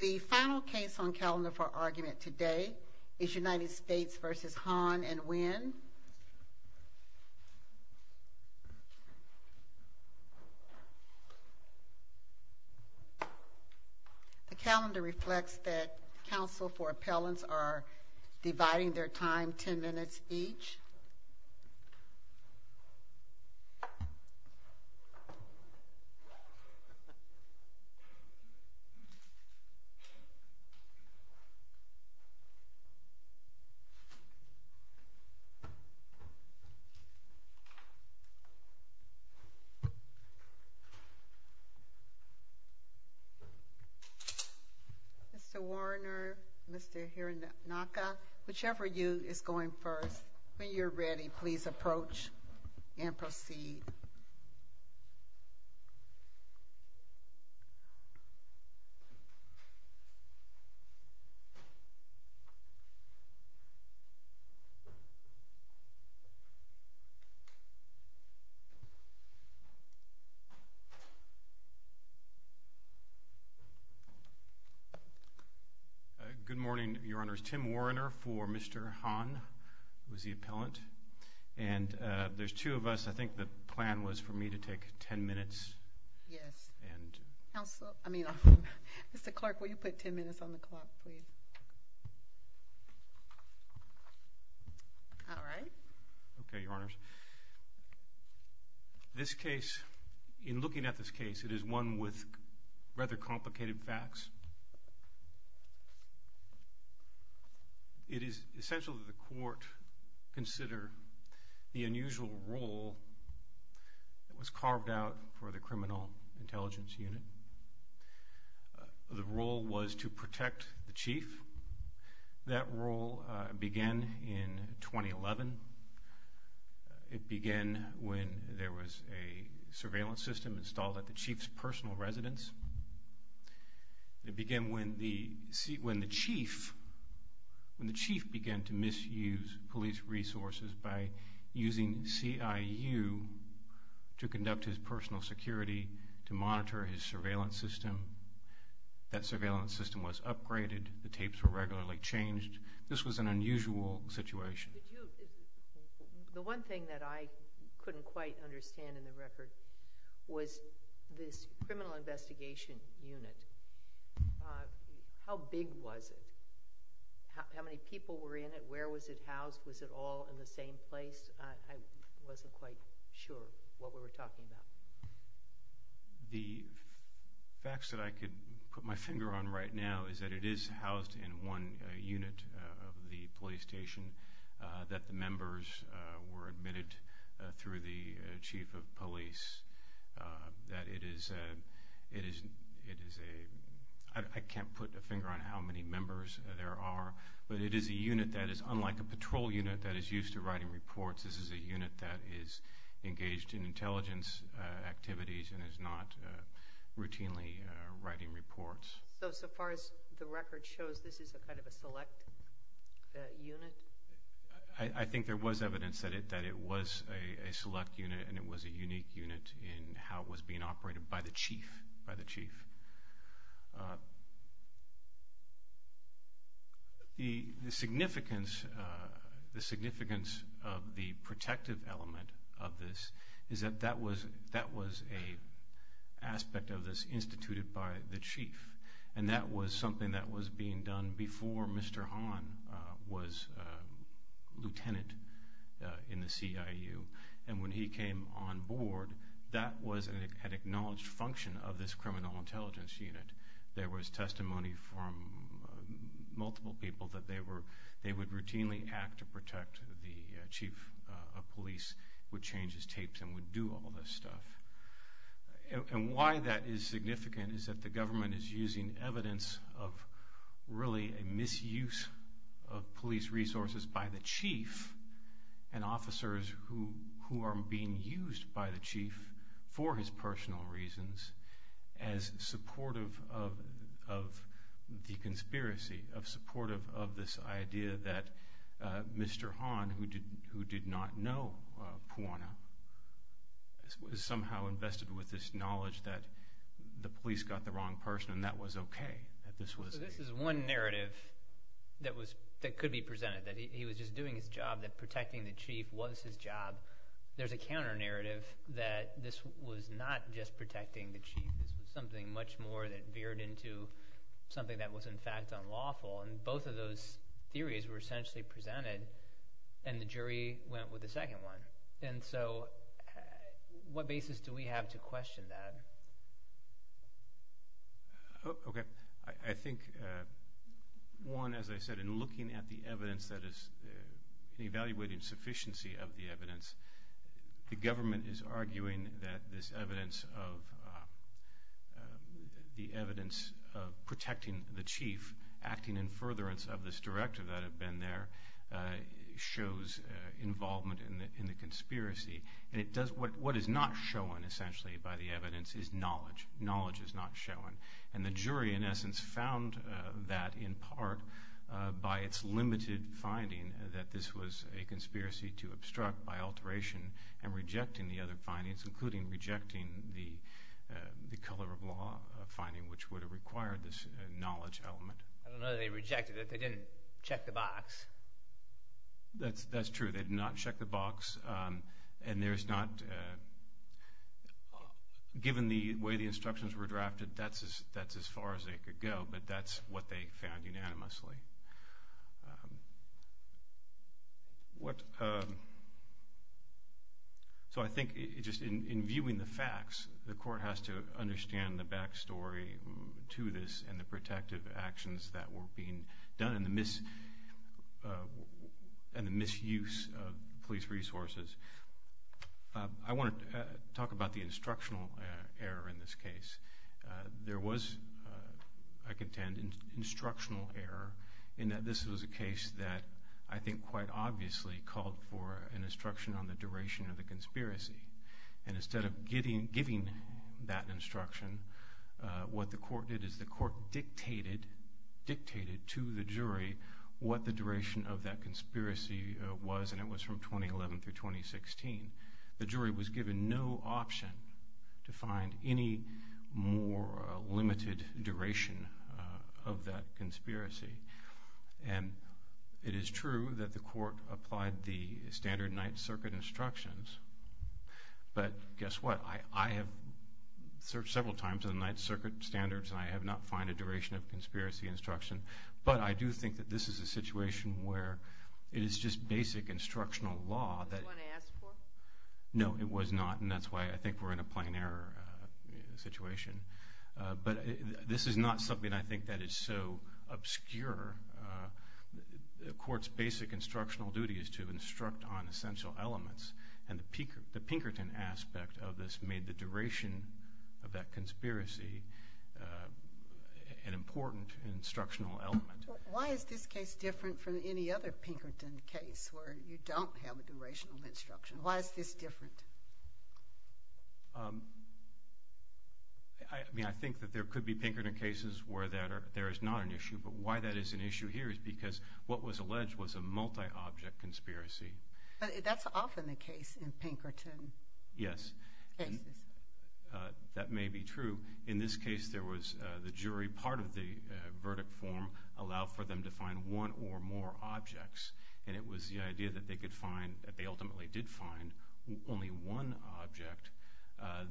The final case on calendar for argument today is United States v. Hahn and Wynne. The calendar reflects that counsel for appellants are dividing their time ten minutes each. Mr. Warriner, Mr. Hironaka, whichever of you is going first, when you're ready please approach and proceed. Good morning, your honors. Tim Warriner for Mr. Hahn, who is the appellant. And there's two of us. I think the plan was for me to take ten minutes. Counsel, I mean, Mr. Clark, will you put ten minutes on the clock, please? All right. Okay, your honors. This case, in looking at this case, it is one with rather complicated facts. It is essential that the court consider the unusual role that was carved out for the criminal intelligence unit. The role was to protect the chief. That role began in 2011. It began when there was a surveillance system installed at the chief's personal residence. It began when the chief began to misuse police resources by using CIU to conduct his personal security, to monitor his surveillance system. That surveillance system was upgraded. The tapes were regularly changed. This was an unusual situation. The one thing that I couldn't quite understand in the record was this criminal investigation unit. How big was it? How many people were in it? Where was it housed? Was it all in the same place? I wasn't quite sure what we were talking about. The facts that I could put my finger on right now is that it is housed in one unit of the police station, that the members were admitted through the chief of police. I can't put a finger on how many members there are, but it is a unit that is unlike a patrol unit that is used to writing reports. This is a unit that is engaged in intelligence activities and is not routinely writing reports. So far as the record shows, this is a kind of a select unit? I think there was evidence that it was a select unit, and it was a unique unit in how it was being operated by the chief. The significance of the protective element of this is that that was an aspect of this instituted by the chief, and that was something that was being done before Mr. Hahn was lieutenant in the CIU. When he came on board, that was an acknowledged function of this criminal intelligence unit. There was testimony from multiple people that they would routinely act to protect the chief of police, would change his tapes, and would do all this stuff. Why that is significant is that the government is using evidence of really a misuse of police resources by the chief and officers who are being used by the chief for his personal reasons as supportive of the conspiracy, as supportive of this idea that Mr. Hahn, who did not know Puana, was somehow invested with this knowledge that the police got the wrong person and that was okay. So this is one narrative that could be presented, that he was just doing his job, that protecting the chief was his job. There's a counter-narrative that this was not just protecting the chief. This was something much more that veered into something that was in fact unlawful, and both of those theories were essentially presented, and the jury went with the second one. So what basis do we have to question that? Okay. I think, one, as I said, in looking at the evidence that is evaluating sufficiency of the evidence, the government is arguing that this evidence of protecting the chief, acting in furtherance of this directive that had been there, shows involvement in the conspiracy. And what is not shown, essentially, by the evidence is knowledge. Knowledge is not shown. And the jury, in essence, found that in part by its limited finding that this was a conspiracy to obstruct by alteration and rejecting the other findings, including rejecting the color of law finding, which would have required this knowledge element. I don't know that they rejected it. They didn't check the box. That's true. They did not check the box, and there's not – given the way the instructions were drafted, that's as far as they could go, but that's what they found unanimously. So I think just in viewing the facts, the court has to understand the back story to this and the protective actions that were being done and the misuse of police resources. I want to talk about the instructional error in this case. There was, I contend, an instructional error in that this was a case that, I think quite obviously, called for an instruction on the duration of the conspiracy. And instead of giving that instruction, what the court did is the court dictated to the jury what the duration of that conspiracy was, and it was from 2011 through 2016. The jury was given no option to find any more limited duration of that conspiracy. And it is true that the court applied the standard Ninth Circuit instructions, but guess what? I have searched several times in the Ninth Circuit standards, and I have not found a duration of conspiracy instruction, but I do think that this is a situation where it is just basic instructional law. Was it what they asked for? No, it was not, and that's why I think we're in a plain error situation. But this is not something I think that is so obscure. The court's basic instructional duty is to instruct on essential elements, and the Pinkerton aspect of this made the duration of that conspiracy an important instructional element. Why is this case different from any other Pinkerton case where you don't have a duration of instruction? Why is this different? I mean, I think that there could be Pinkerton cases where there is not an issue, but why that is an issue here is because what was alleged was a multi-object conspiracy. But that's often the case in Pinkerton cases. Yes, and that may be true. In this case, there was the jury. Part of the verdict form allowed for them to find one or more objects, and it was the idea that they ultimately did find only one object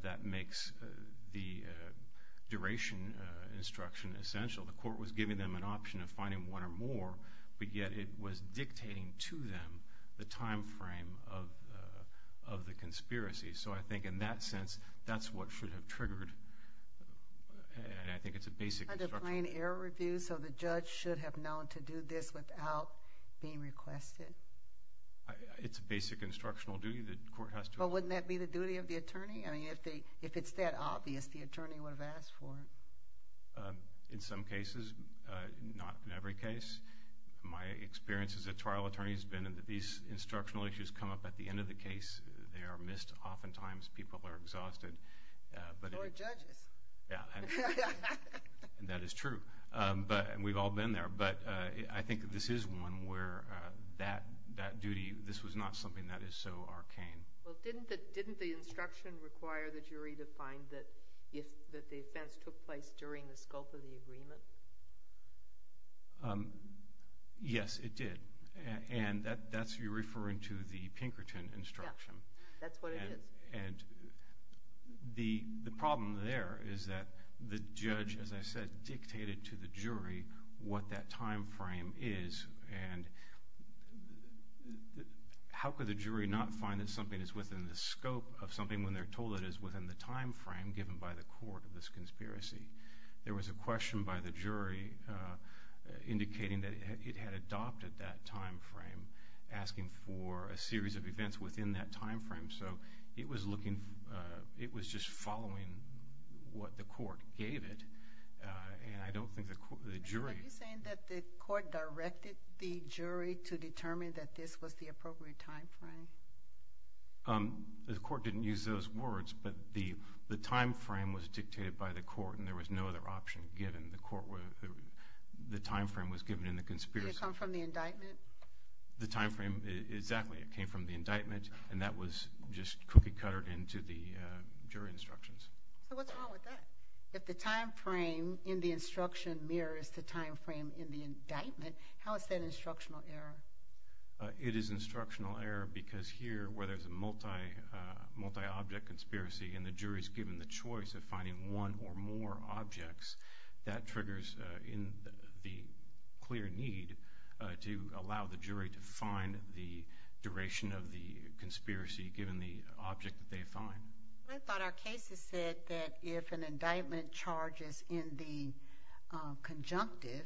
that makes the duration instruction essential. The court was giving them an option of finding one or more, but yet it was dictating to them the time frame of the conspiracy. So I think in that sense, that's what should have triggered, and I think it's a basic instruction. So the judge should have known to do this without being requested? It's a basic instructional duty. But wouldn't that be the duty of the attorney? I mean, if it's that obvious, the attorney would have asked for it. In some cases, not in every case. My experience as a trial attorney has been that these instructional issues come up at the end of the case. They are missed oftentimes. People are exhausted. Or judges. That is true, and we've all been there. But I think this is one where that duty, this was not something that is so arcane. Well, didn't the instruction require the jury to find that the offense took place during the scope of the agreement? Yes, it did, and that's referring to the Pinkerton instruction. Yeah, that's what it is. And the problem there is that the judge, as I said, dictated to the jury what that time frame is, and how could the jury not find that something is within the scope of something when they're told it is within the time frame given by the court of this conspiracy? There was a question by the jury indicating that it had adopted that time frame, asking for a series of events within that time frame. So it was just following what the court gave it, and I don't think the jury— Are you saying that the court directed the jury to determine that this was the appropriate time frame? The court didn't use those words, but the time frame was dictated by the court, and there was no other option given. The time frame was given in the conspiracy. Did it come from the indictment? The time frame, exactly. It came from the indictment, and that was just cookie-cuttered into the jury instructions. So what's wrong with that? If the time frame in the instruction mirrors the time frame in the indictment, how is that an instructional error? It is an instructional error because here, where there's a multi-object conspiracy and the jury is given the choice of finding one or more objects, that triggers in the clear need to allow the jury to find the duration of the conspiracy given the object that they find. I thought our cases said that if an indictment charges in the conjunctive,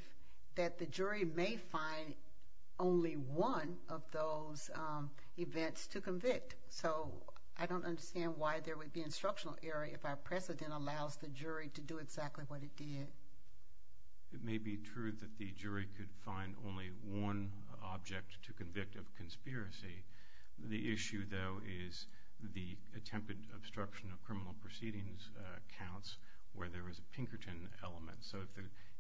that the jury may find only one of those events to convict. So I don't understand why there would be an instructional error if our precedent allows the jury to do exactly what it did. It may be true that the jury could find only one object to convict of conspiracy. The issue, though, is the attempted obstruction of criminal proceedings counts where there is a Pinkerton element. So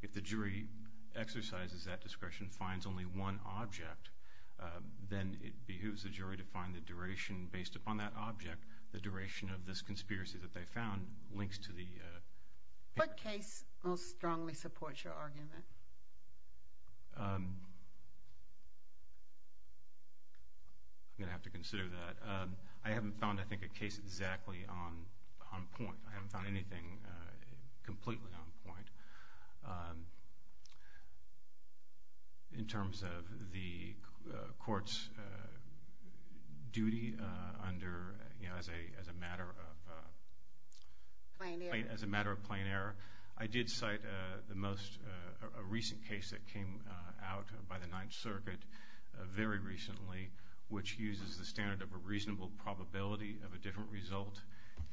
if the jury exercises that discretion, finds only one object, then it behooves the jury to find the duration based upon that object. The duration of this conspiracy that they found links to the Pinkerton. What case most strongly supports your argument? I'm going to have to consider that. I haven't found, I think, a case exactly on point. I haven't found anything completely on point. In terms of the court's duty as a matter of plain error, I did cite a recent case that came out by the Ninth Circuit very recently, which uses the standard of a reasonable probability of a different result.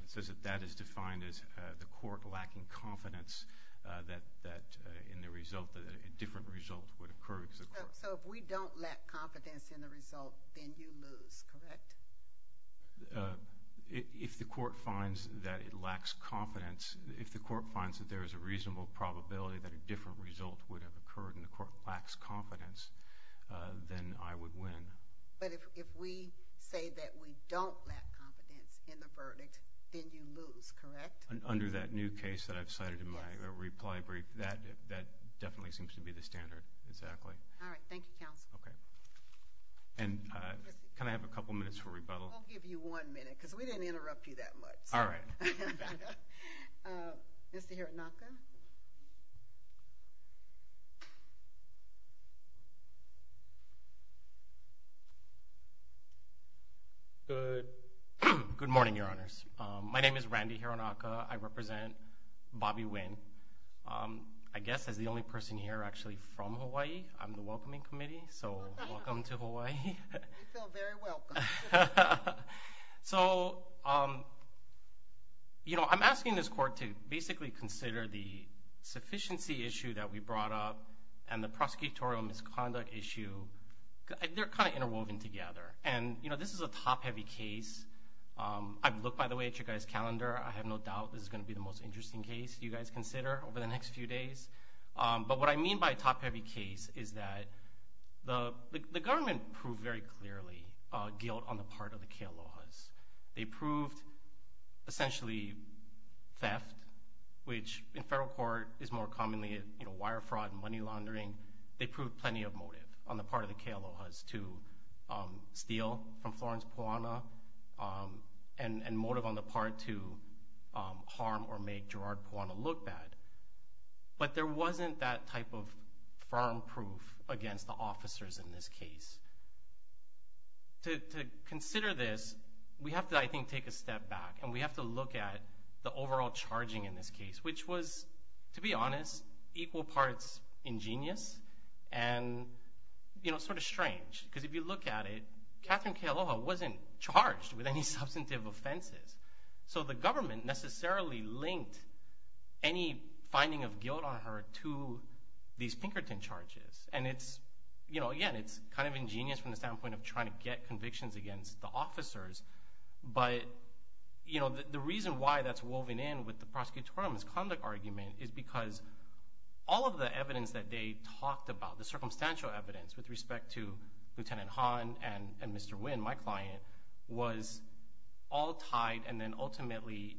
It says that that is defined as the court lacking confidence that in the result, a different result would occur. So if we don't lack confidence in the result, then you lose, correct? If the court finds that it lacks confidence, if the court finds that there is a reasonable probability that a different result would have occurred and the court lacks confidence, then I would win. But if we say that we don't lack confidence in the verdict, then you lose, correct? Under that new case that I've cited in my reply brief, that definitely seems to be the standard, exactly. All right. Thank you, counsel. Okay. And can I have a couple minutes for rebuttal? We'll give you one minute because we didn't interrupt you that much. All right. Mr. Hironaka. Good morning, Your Honors. My name is Randy Hironaka. I represent Bobby Nguyen. I guess as the only person here actually from Hawaii, I'm the welcoming committee, so welcome to Hawaii. You feel very welcome. So, you know, I'm asking this court to basically consider the sufficiency issue that we brought up and the prosecutorial misconduct issue. They're kind of interwoven together. And, you know, this is a top-heavy case. I've looked, by the way, at your guys' calendar. I have no doubt this is going to be the most interesting case you guys consider over the next few days. But what I mean by a top-heavy case is that the government proved very clearly guilt on the part of the Kealohas. They proved essentially theft, which in federal court is more commonly wire fraud and money laundering. They proved plenty of motive on the part of the Kealohas to steal from Florence Puana and motive on the part to harm or make Gerard Puana look bad. But there wasn't that type of firm proof against the officers in this case. To consider this, we have to, I think, take a step back, and we have to look at the overall charging in this case, which was, to be honest, equal parts ingenious and, you know, sort of strange. Because if you look at it, Catherine Kealoha wasn't charged with any substantive offenses. So the government necessarily linked any finding of guilt on her to these Pinkerton charges. And it's, you know, again, it's kind of ingenious from the standpoint of trying to get convictions against the officers. But, you know, the reason why that's woven in with the prosecutorial misconduct argument is because all of the evidence that they talked about, the circumstantial evidence, with respect to Lieutenant Hahn and Mr. Wynn, my client, was all tied and then ultimately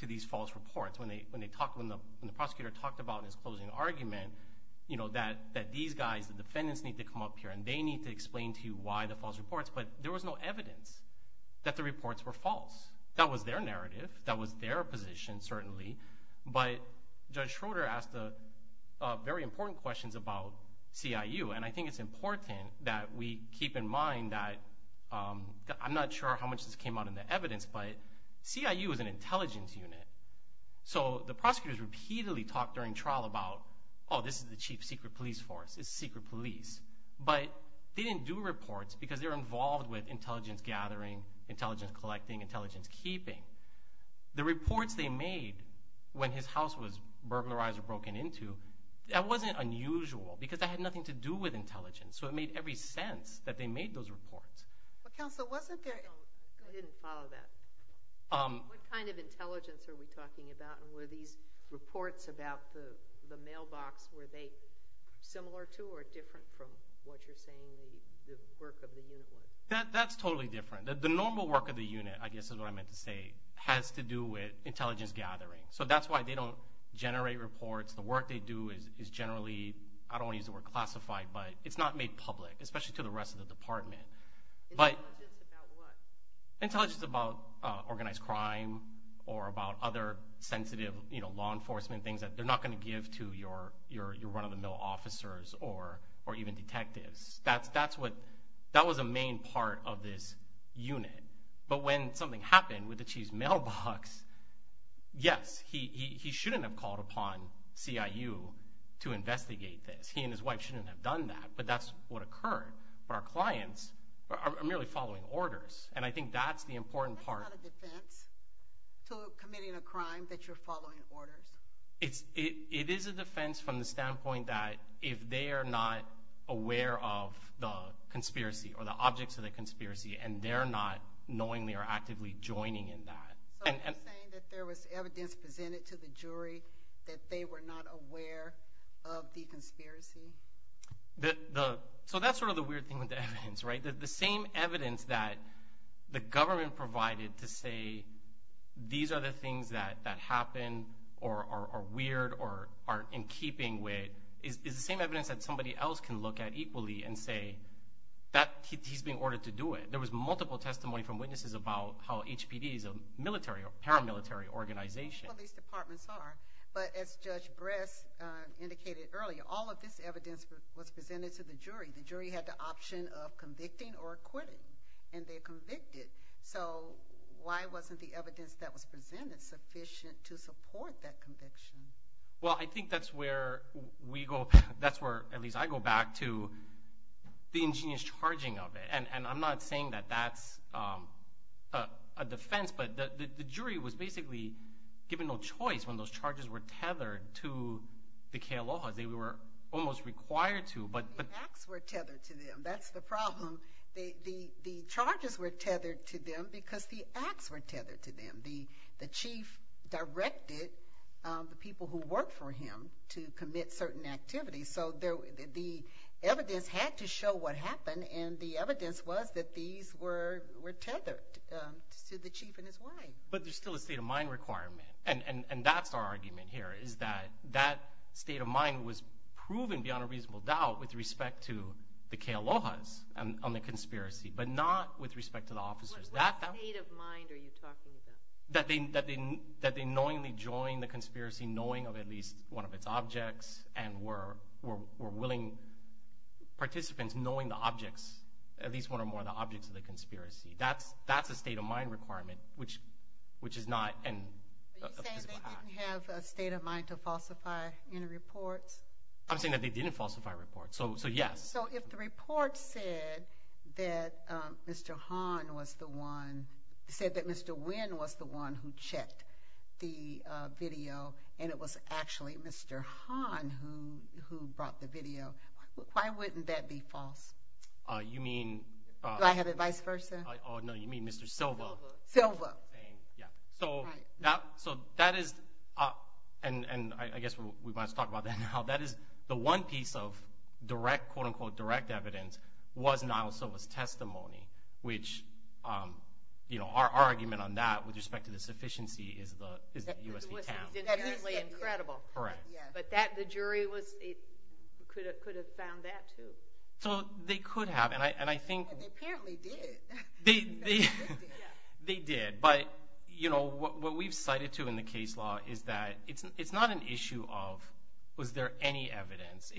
to these false reports. When the prosecutor talked about in his closing argument, you know, that these guys, the defendants, need to come up here and they need to explain to you why the false reports. But there was no evidence that the reports were false. That was their narrative. That was their position, certainly. But Judge Schroeder asked very important questions about CIU. And I think it's important that we keep in mind that I'm not sure how much this came out in the evidence, but CIU is an intelligence unit. So the prosecutors repeatedly talked during trial about, oh, this is the chief secret police force. It's secret police. But they didn't do reports because they're involved with intelligence gathering, intelligence collecting, intelligence keeping. The reports they made when his house was burglarized or broken into, that wasn't unusual because that had nothing to do with intelligence. So it made every sense that they made those reports. Counsel, wasn't there – I didn't follow that. What kind of intelligence are we talking about and were these reports about the mailbox, were they similar to or different from what you're saying the work of the unit was? That's totally different. The normal work of the unit, I guess is what I meant to say, has to do with intelligence gathering. So that's why they don't generate reports. The work they do is generally – I don't want to use the word classified, but it's not made public, especially to the rest of the department. Intelligence about what? Intelligence about organized crime or about other sensitive law enforcement things that they're not going to give to your run-of-the-mill officers or even detectives. That was a main part of this unit. But when something happened with the chief's mailbox, yes, he shouldn't have called upon CIU to investigate this. He and his wife shouldn't have done that, but that's what occurred. But our clients are merely following orders, and I think that's the important part. Isn't that a defense to committing a crime, that you're following orders? It is a defense from the standpoint that if they are not aware of the conspiracy or the objects of the conspiracy and they're not knowingly or actively joining in that. So are you saying that there was evidence presented to the jury that they were not aware of the conspiracy? So that's sort of the weird thing with the evidence, right? The same evidence that the government provided to say, these are the things that happened or are weird or aren't in keeping with, is the same evidence that somebody else can look at equally and say, he's being ordered to do it. There was multiple testimony from witnesses about how HPD is a military or paramilitary organization. Well, these departments are. But as Judge Bress indicated earlier, all of this evidence was presented to the jury. The jury had the option of convicting or acquitting, and they convicted. So why wasn't the evidence that was presented sufficient to support that conviction? Well, I think that's where, at least I go back to, the ingenious charging of it. And I'm not saying that that's a defense, but the jury was basically given no choice when those charges were tethered to the Kealohas. They were almost required to. The acts were tethered to them. That's the problem. The charges were tethered to them because the acts were tethered to them. The chief directed the people who worked for him to commit certain activities. So the evidence had to show what happened, and the evidence was that these were tethered to the chief and his wife. But there's still a state of mind requirement, and that's our argument here, is that that state of mind was proven beyond a reasonable doubt with respect to the Kealohas on the conspiracy, but not with respect to the officers. What state of mind are you talking about? That they knowingly joined the conspiracy knowing of at least one of its objects and were willing participants knowing the objects, at least one or more of the objects of the conspiracy. That's a state of mind requirement, which is not a physical act. Are you saying they didn't have a state of mind to falsify any reports? I'm saying that they didn't falsify reports, so yes. So if the report said that Mr. Hahn was the one, said that Mr. Nguyen was the one who checked the video and it was actually Mr. Hahn who brought the video, why wouldn't that be false? You mean— Do I have it vice versa? No, you mean Mr. Silva. Silva. So that is—and I guess we want to talk about that now. The one piece of direct, quote-unquote, direct evidence was Niall Silva's testimony, which our argument on that with respect to the sufficiency is the U.S. v. TAM. It's inherently incredible. Correct. But the jury could have found that too. So they could have, and I think— They apparently did. They did. But, you know, what we've cited too in the case law is that it's not an issue of was there any evidence.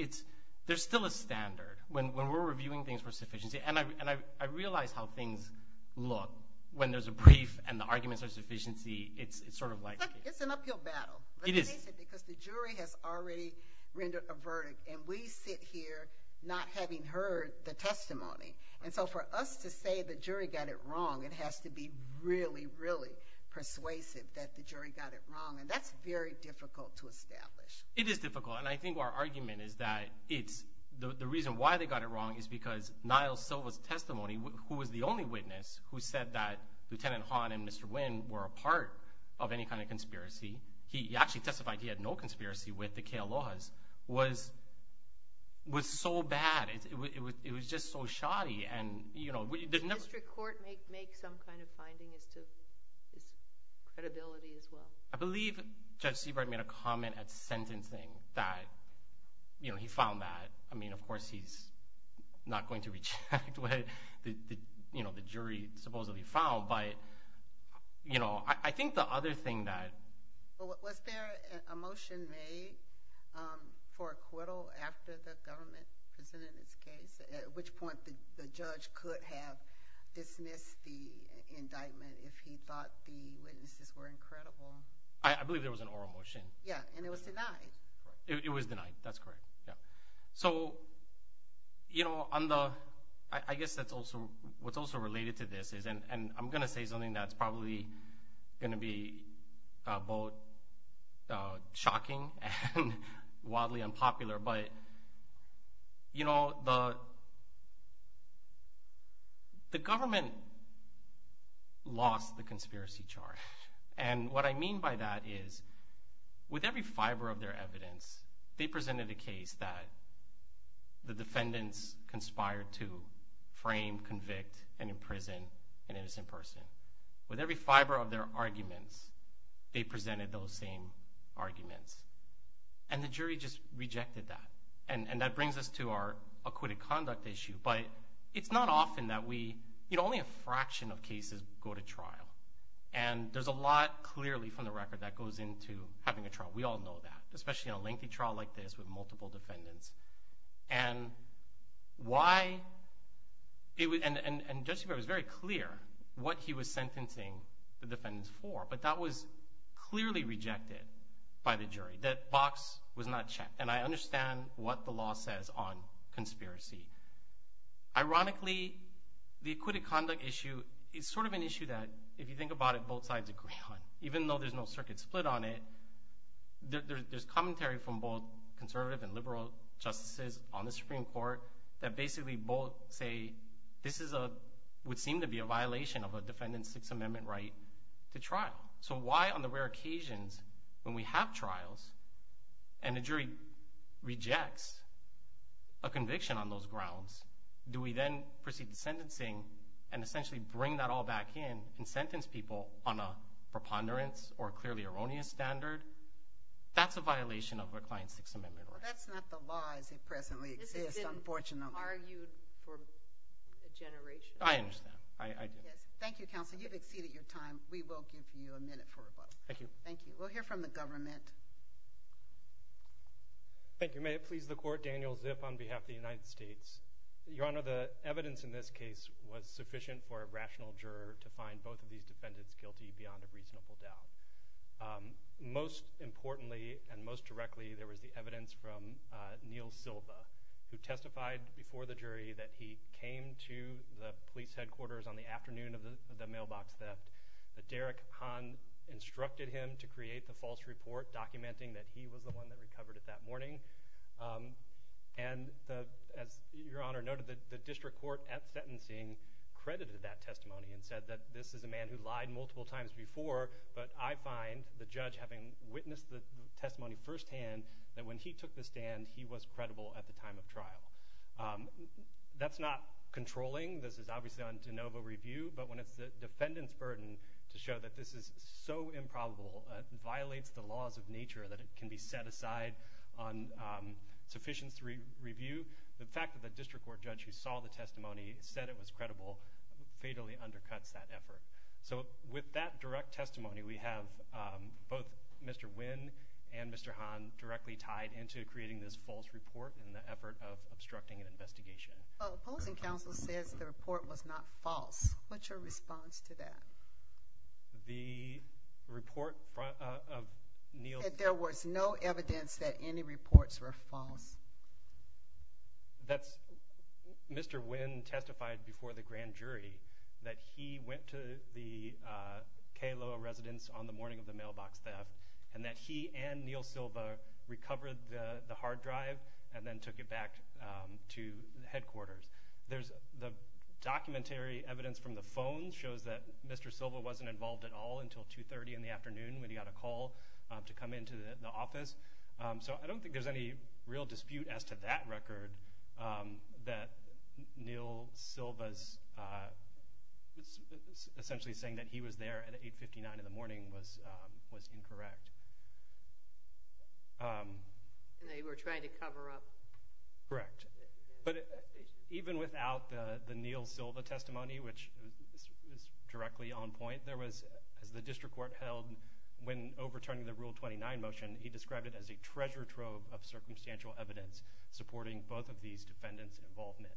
There's still a standard. When we're reviewing things for sufficiency, and I realize how things look when there's a brief and the arguments are sufficiency. It's sort of like— It's an uphill battle. It is. Because the jury has already rendered a verdict, and we sit here not having heard the testimony. And so for us to say the jury got it wrong, it has to be really, really persuasive that the jury got it wrong. And that's very difficult to establish. It is difficult, and I think our argument is that it's— the reason why they got it wrong is because Niall Silva's testimony, who was the only witness who said that Lieutenant Hahn and Mr. Wynn were a part of any kind of conspiracy— he actually testified he had no conspiracy with the Kealohas— was so bad. It was just so shoddy. Did the district court make some kind of finding as to his credibility as well? I believe Judge Seabright made a comment at sentencing that he found that. I mean, of course, he's not going to reject what the jury supposedly found. But I think the other thing that— So was there a motion made for acquittal after the government presented its case, at which point the judge could have dismissed the indictment if he thought the witnesses were incredible? I believe there was an oral motion. Yeah, and it was denied. It was denied. That's correct. So, you know, on the—I guess that's also—what's also related to this is— shocking and wildly unpopular, but, you know, the government lost the conspiracy charge. And what I mean by that is with every fiber of their evidence, they presented a case that the defendants conspired to frame, convict, and imprison an innocent person. With every fiber of their arguments, they presented those same arguments. And the jury just rejected that. And that brings us to our acquitted conduct issue. But it's not often that we—you know, only a fraction of cases go to trial. And there's a lot clearly from the record that goes into having a trial. We all know that, especially in a lengthy trial like this with multiple defendants. And why—and Judge Seabright was very clear what he was sentencing the defendants for, but that was clearly rejected by the jury, that box was not checked. And I understand what the law says on conspiracy. Ironically, the acquitted conduct issue is sort of an issue that, if you think about it, both sides agree on. Even though there's no circuit split on it, there's commentary from both conservative and liberal justices on the Supreme Court that basically both say this would seem to be a violation of a defendant's Sixth Amendment right to trial. So why, on the rare occasions when we have trials and the jury rejects a conviction on those grounds, do we then proceed to sentencing and essentially bring that all back in and sentence people on a preponderance or clearly erroneous standard? That's a violation of a client's Sixth Amendment right. Well, that's not the law as it presently exists, unfortunately. This has been argued for a generation. I understand. I do. Yes. Thank you, counsel. You've exceeded your time. We will give you a minute for rebuttal. Thank you. Thank you. We'll hear from the government. Thank you. May it please the Court, Daniel Ziff on behalf of the United States. Your Honor, the evidence in this case was sufficient for a rational juror to find both of these defendants guilty beyond a reasonable doubt. Most importantly and most directly, there was the evidence from Neal Silva, who testified before the jury that he came to the police headquarters on the afternoon of the mailbox theft. Derek Hahn instructed him to create the false report documenting that he was the one that recovered it that morning. And as Your Honor noted, the district court at sentencing credited that testimony and said that this is a man who lied multiple times before, but I find, the judge having witnessed the testimony firsthand, that when he took the stand, he was credible at the time of trial. That's not controlling. This is obviously on de novo review. But when it's the defendant's burden to show that this is so improbable, it violates the laws of nature that it can be set aside on sufficiency review. The fact that the district court judge who saw the testimony said it was credible fatally undercuts that effort. So with that direct testimony, we have both Mr. Wynn and Mr. Hahn directly tied into creating this false report in the effort of obstructing an investigation. Well, opposing counsel says the report was not false. What's your response to that? The report of Neal… That there was no evidence that any reports were false. That's…Mr. Wynn testified before the grand jury that he went to the K-LOA residence on the morning of the mailbox theft, and that he and Neal Silva recovered the hard drive and then took it back to headquarters. The documentary evidence from the phone shows that Mr. Silva wasn't involved at all until 2.30 in the afternoon when he got a call to come into the office. So I don't think there's any real dispute as to that record that Neal Silva's… essentially saying that he was there at 8.59 in the morning was incorrect. They were trying to cover up… Even without the Neal Silva testimony, which is directly on point, there was, as the district court held when overturning the Rule 29 motion, he described it as a treasure trove of circumstantial evidence supporting both of these defendants' involvement.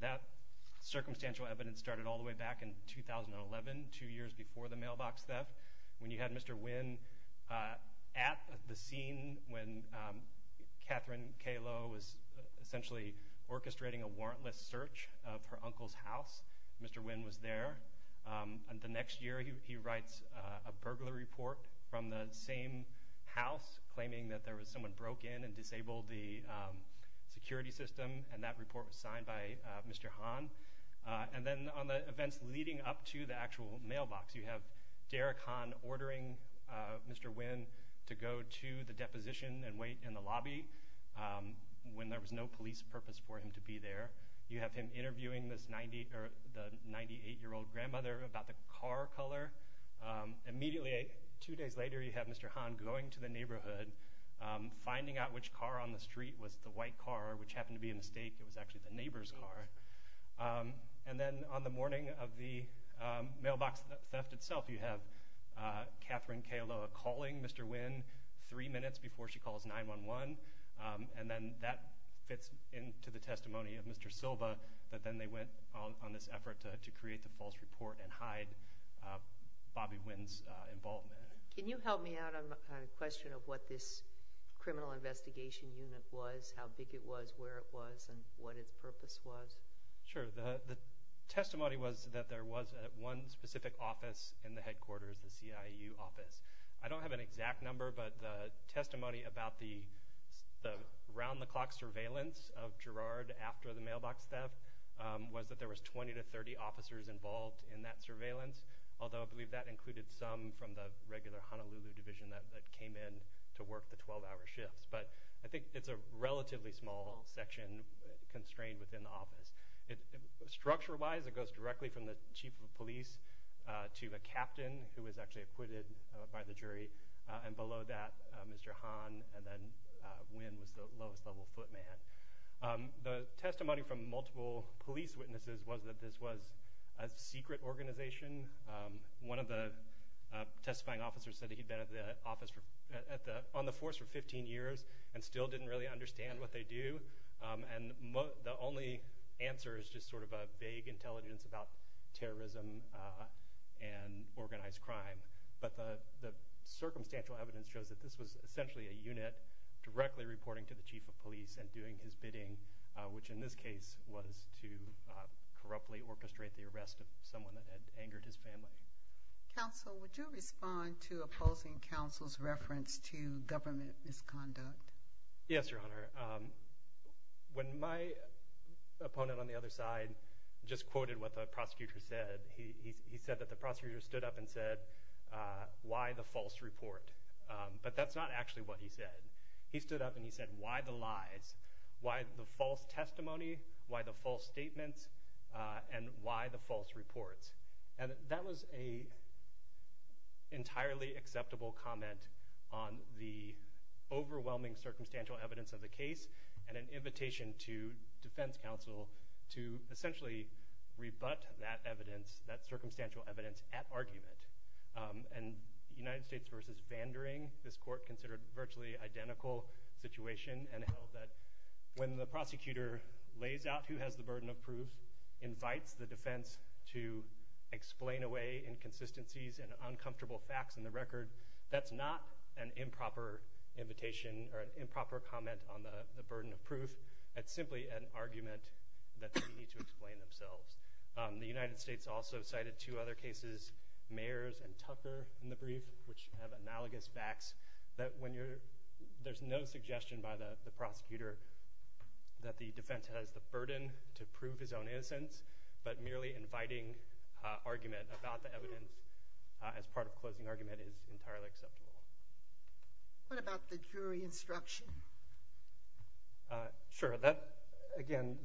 That circumstantial evidence started all the way back in 2011, two years before the mailbox theft, when you had Mr. Wynn at the scene when Catherine K-LOA was essentially orchestrating a warrantless search of her uncle's house. Mr. Wynn was there. The next year, he writes a burglary report from the same house claiming that there was someone broke in and disabled the security system, and that report was signed by Mr. Hahn. And then on the events leading up to the actual mailbox, you have Derek Hahn ordering Mr. Wynn to go to the deposition and wait in the lobby when there was no police purpose for him to be there. You have him interviewing the 98-year-old grandmother about the car color. Immediately, two days later, you have Mr. Hahn going to the neighborhood, finding out which car on the street was the white car, which happened to be a mistake. It was actually the neighbor's car. And then on the morning of the mailbox theft itself, you have Catherine K-LOA calling Mr. Wynn three minutes before she calls 911. And then that fits into the testimony of Mr. Silva that then they went on this effort to create the false report and hide Bobby Wynn's involvement. Can you help me out on a question of what this criminal investigation unit was, how big it was, where it was, and what its purpose was? Sure. The testimony was that there was one specific office in the headquarters, the CIU office. I don't have an exact number, but the testimony about the round-the-clock surveillance of Girard after the mailbox theft was that there was 20 to 30 officers involved in that surveillance, although I believe that included some from the regular Honolulu division that came in to work the 12-hour shifts. But I think it's a relatively small section constrained within the office. Structure-wise, it goes directly from the chief of police to the captain, who was actually acquitted by the jury. And below that, Mr. Hahn, and then Wynn was the lowest-level footman. The testimony from multiple police witnesses was that this was a secret organization. One of the testifying officers said that he'd been on the force for 15 years and still didn't really understand what they do, and the only answer is just sort of a vague intelligence about terrorism and organized crime. But the circumstantial evidence shows that this was essentially a unit directly reporting to the chief of police and doing his bidding, which in this case was to corruptly orchestrate the arrest of someone that had angered his family. Counsel, would you respond to opposing counsel's reference to government misconduct? Yes, Your Honor. When my opponent on the other side just quoted what the prosecutor said, he said that the prosecutor stood up and said, why the false report? But that's not actually what he said. He stood up and he said, why the lies? Why the false testimony? Why the false statements? And why the false reports? And that was an entirely acceptable comment on the overwhelming circumstantial evidence of the case and an invitation to defense counsel to essentially rebut that evidence, that circumstantial evidence, at argument. And United States v. Vandering, this court considered virtually identical situation and held that when the prosecutor lays out who has the burden of proof, invites the defense to explain away inconsistencies and uncomfortable facts in the record, that's not an improper invitation or an improper comment on the burden of proof. That's simply an argument that they need to explain themselves. The United States also cited two other cases, Mayers and Tucker, in the brief, which have analogous facts that there's no suggestion by the prosecutor that the defense has the burden to prove his own innocence, but merely inviting argument about the evidence as part of closing argument is entirely acceptable. What about the jury instruction? Sure. Again,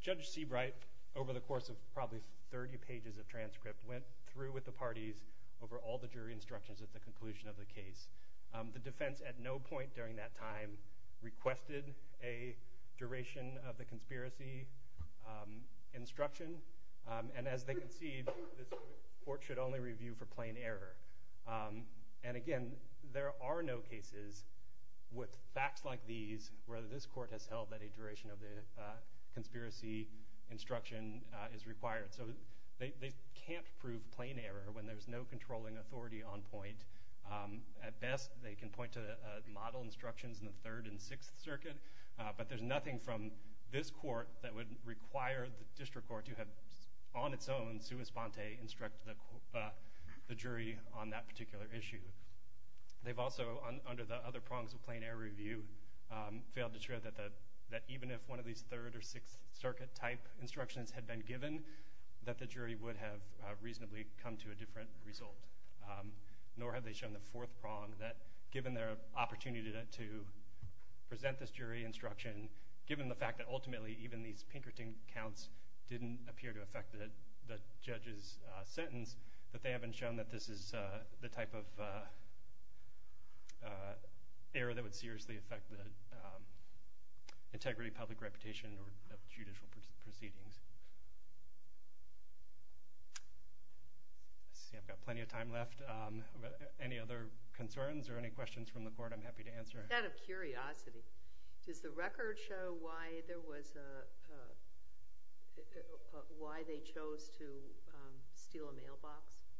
Judge Seabright, over the course of probably 30 pages of transcript, went through with the parties over all the jury instructions at the conclusion of the case. The defense at no point during that time requested a duration of the conspiracy instruction. And as they concede, this court should only review for plain error. And again, there are no cases with facts like these where this court has held that a duration of the conspiracy instruction is required. So they can't prove plain error when there's no controlling authority on point. At best, they can point to model instructions in the Third and Sixth Circuit, but there's nothing from this court that would require the district court to have, on its own, sui sponte, instruct the jury on that particular issue. They've also, under the other prongs of plain error review, failed to show that even if one of these Third or Sixth Circuit type instructions had been given, that the jury would have reasonably come to a different result. Nor have they shown the fourth prong that, given their opportunity to present this jury instruction, given the fact that ultimately even these Pinkerton counts didn't appear to affect the judge's sentence, that they haven't shown that this is the type of error that would seriously affect the integrity, public reputation, or the judicial proceedings. Let's see, I've got plenty of time left. Any other concerns or any questions from the court, I'm happy to answer. Out of curiosity, does the record show why there was a— why they chose to steal a mailbox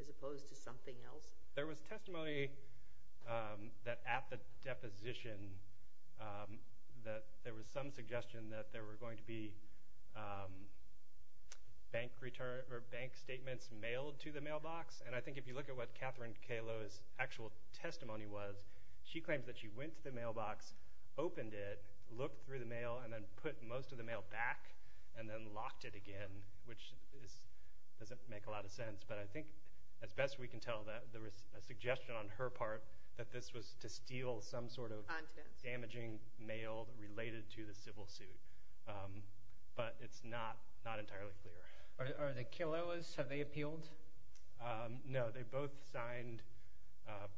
as opposed to something else? There was testimony that at the deposition that there was some suggestion that there were going to be bank statements mailed to the mailbox. And I think if you look at what Catherine Cayloa's actual testimony was, she claims that she went to the mailbox, opened it, looked through the mail, and then put most of the mail back and then locked it again, which doesn't make a lot of sense. But I think, as best we can tell, that there was a suggestion on her part that this was to steal some sort of damaging mail related to the civil suit. But it's not entirely clear. Are the Cayloas—have they appealed? No, they both signed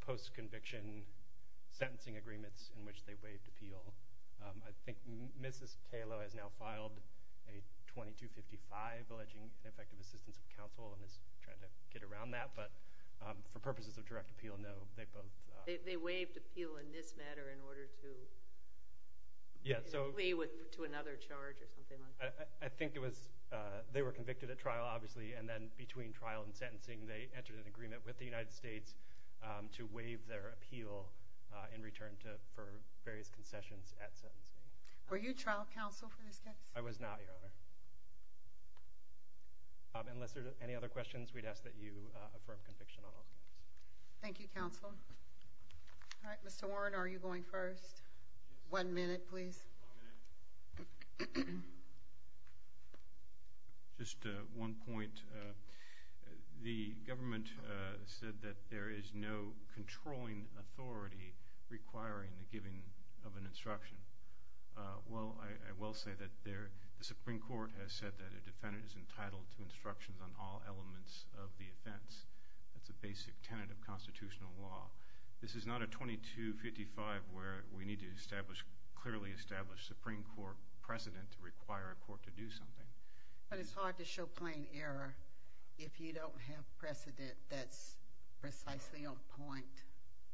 post-conviction sentencing agreements in which they waived appeal. I think Mrs. Cayloa has now filed a 2255 alleging ineffective assistance of counsel and is trying to get around that. But for purposes of direct appeal, no, they both— They waived appeal in this matter in order to— Yeah, so— —plea to another charge or something like that. I think it was—they were convicted at trial, obviously, and then between trial and sentencing they entered an agreement with the United States to waive their appeal in return for various concessions at sentencing. Were you trial counsel for this case? I was not, Your Honor. Unless there are any other questions, we'd ask that you affirm conviction on all counts. Thank you, counsel. All right, Mr. Warren, are you going first? One minute, please. Just one point. The government said that there is no controlling authority requiring the giving of an instruction. Well, I will say that the Supreme Court has said that a defendant is entitled to instructions on all elements of the offense. That's a basic tenet of constitutional law. This is not a 2255 where we need to establish— But it's hard to show plain error if you don't have precedent that's precisely on point.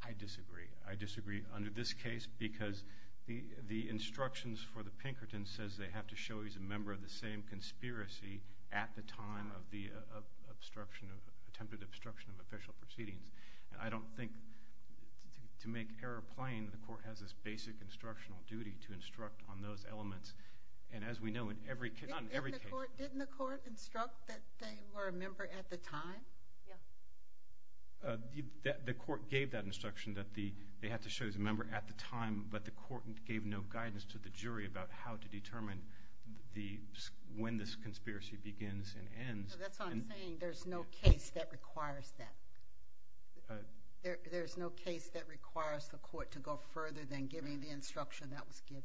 I disagree. I disagree under this case because the instructions for the Pinkerton says they have to show he's a member of the same conspiracy at the time of the attempted obstruction of official proceedings. I don't think to make error plain, the court has this basic instructional duty to instruct on those elements. And as we know, in every case— Didn't the court instruct that they were a member at the time? Yeah. The court gave that instruction that they have to show he's a member at the time, but the court gave no guidance to the jury about how to determine when this conspiracy begins and ends. That's what I'm saying. There's no case that requires that. There's no case that requires the court to go further than giving the instruction that was given.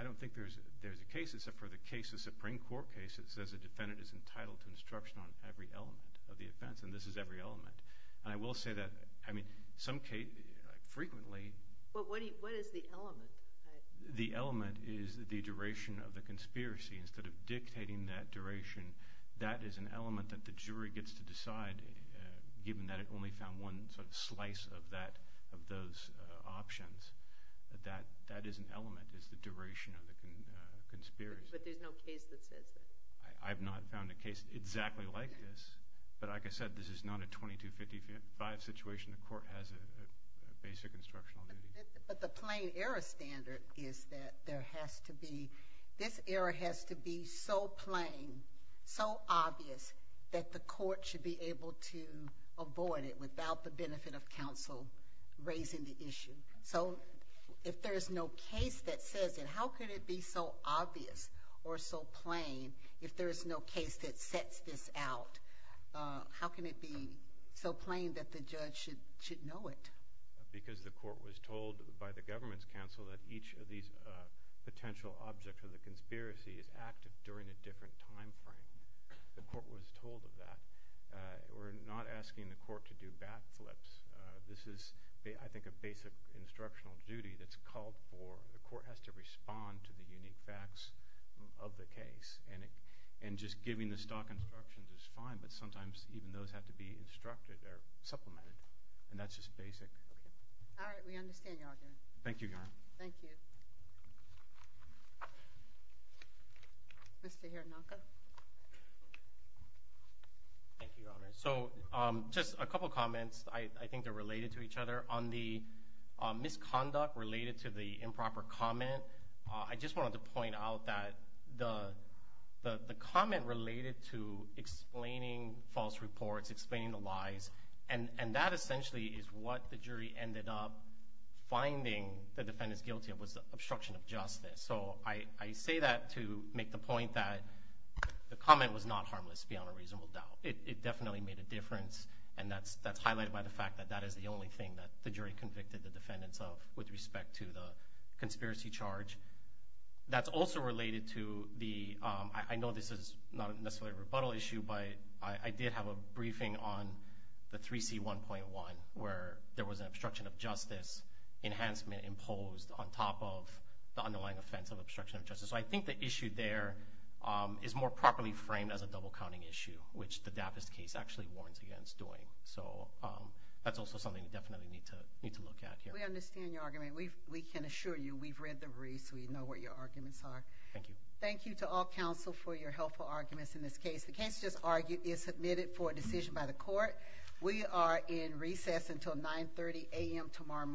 I don't think there's a case except for the case, the Supreme Court case, that says a defendant is entitled to instruction on every element of the offense, and this is every element. And I will say that, I mean, some cases—frequently— But what is the element? The element is the duration of the conspiracy. Instead of dictating that duration, that is an element that the jury gets to decide, given that it only found one sort of slice of those options. That is an element, is the duration of the conspiracy. But there's no case that says that. I have not found a case exactly like this. But like I said, this is not a 2255 situation. The court has a basic instructional duty. But the plain error standard is that there has to be— this error has to be so plain, so obvious, that the court should be able to avoid it without the benefit of counsel raising the issue. So if there is no case that says it, how could it be so obvious or so plain? If there is no case that sets this out, how can it be so plain that the judge should know it? Because the court was told by the government's counsel that each of these potential objects of the conspiracy is active during a different time frame. The court was told of that. We're not asking the court to do bat flips. This is, I think, a basic instructional duty that's called for. The court has to respond to the unique facts of the case. And just giving the stock instructions is fine, but sometimes even those have to be instructed or supplemented. And that's just basic. All right. We understand, Your Honor. Thank you, Your Honor. Thank you. Mr. Hironaka. Thank you, Your Honor. So just a couple comments. I think they're related to each other. On the misconduct related to the improper comment, I just wanted to point out that the comment related to explaining false reports, explaining the lies, and that essentially is what the jury ended up finding the defendants guilty of was the obstruction of justice. So I say that to make the point that the comment was not harmless beyond a reasonable doubt. It definitely made a difference, and that's highlighted by the fact that that is the only thing that the jury convicted the defendants of with respect to the conspiracy charge. That's also related to the – I know this is not necessarily a rebuttal issue, but I did have a briefing on the 3C1.1, where there was an obstruction of justice enhancement imposed on top of the underlying offense of obstruction of justice. So I think the issue there is more properly framed as a double-counting issue, which the Davis case actually warns against doing. So that's also something we definitely need to look at here. We understand your argument. We can assure you we've read the brief, so we know what your arguments are. Thank you. Thank you to all counsel for your helpful arguments in this case. The case just argued is submitted for a decision by the court. We are in recess until 9.30 a.m. tomorrow morning Honolulu time. All rise.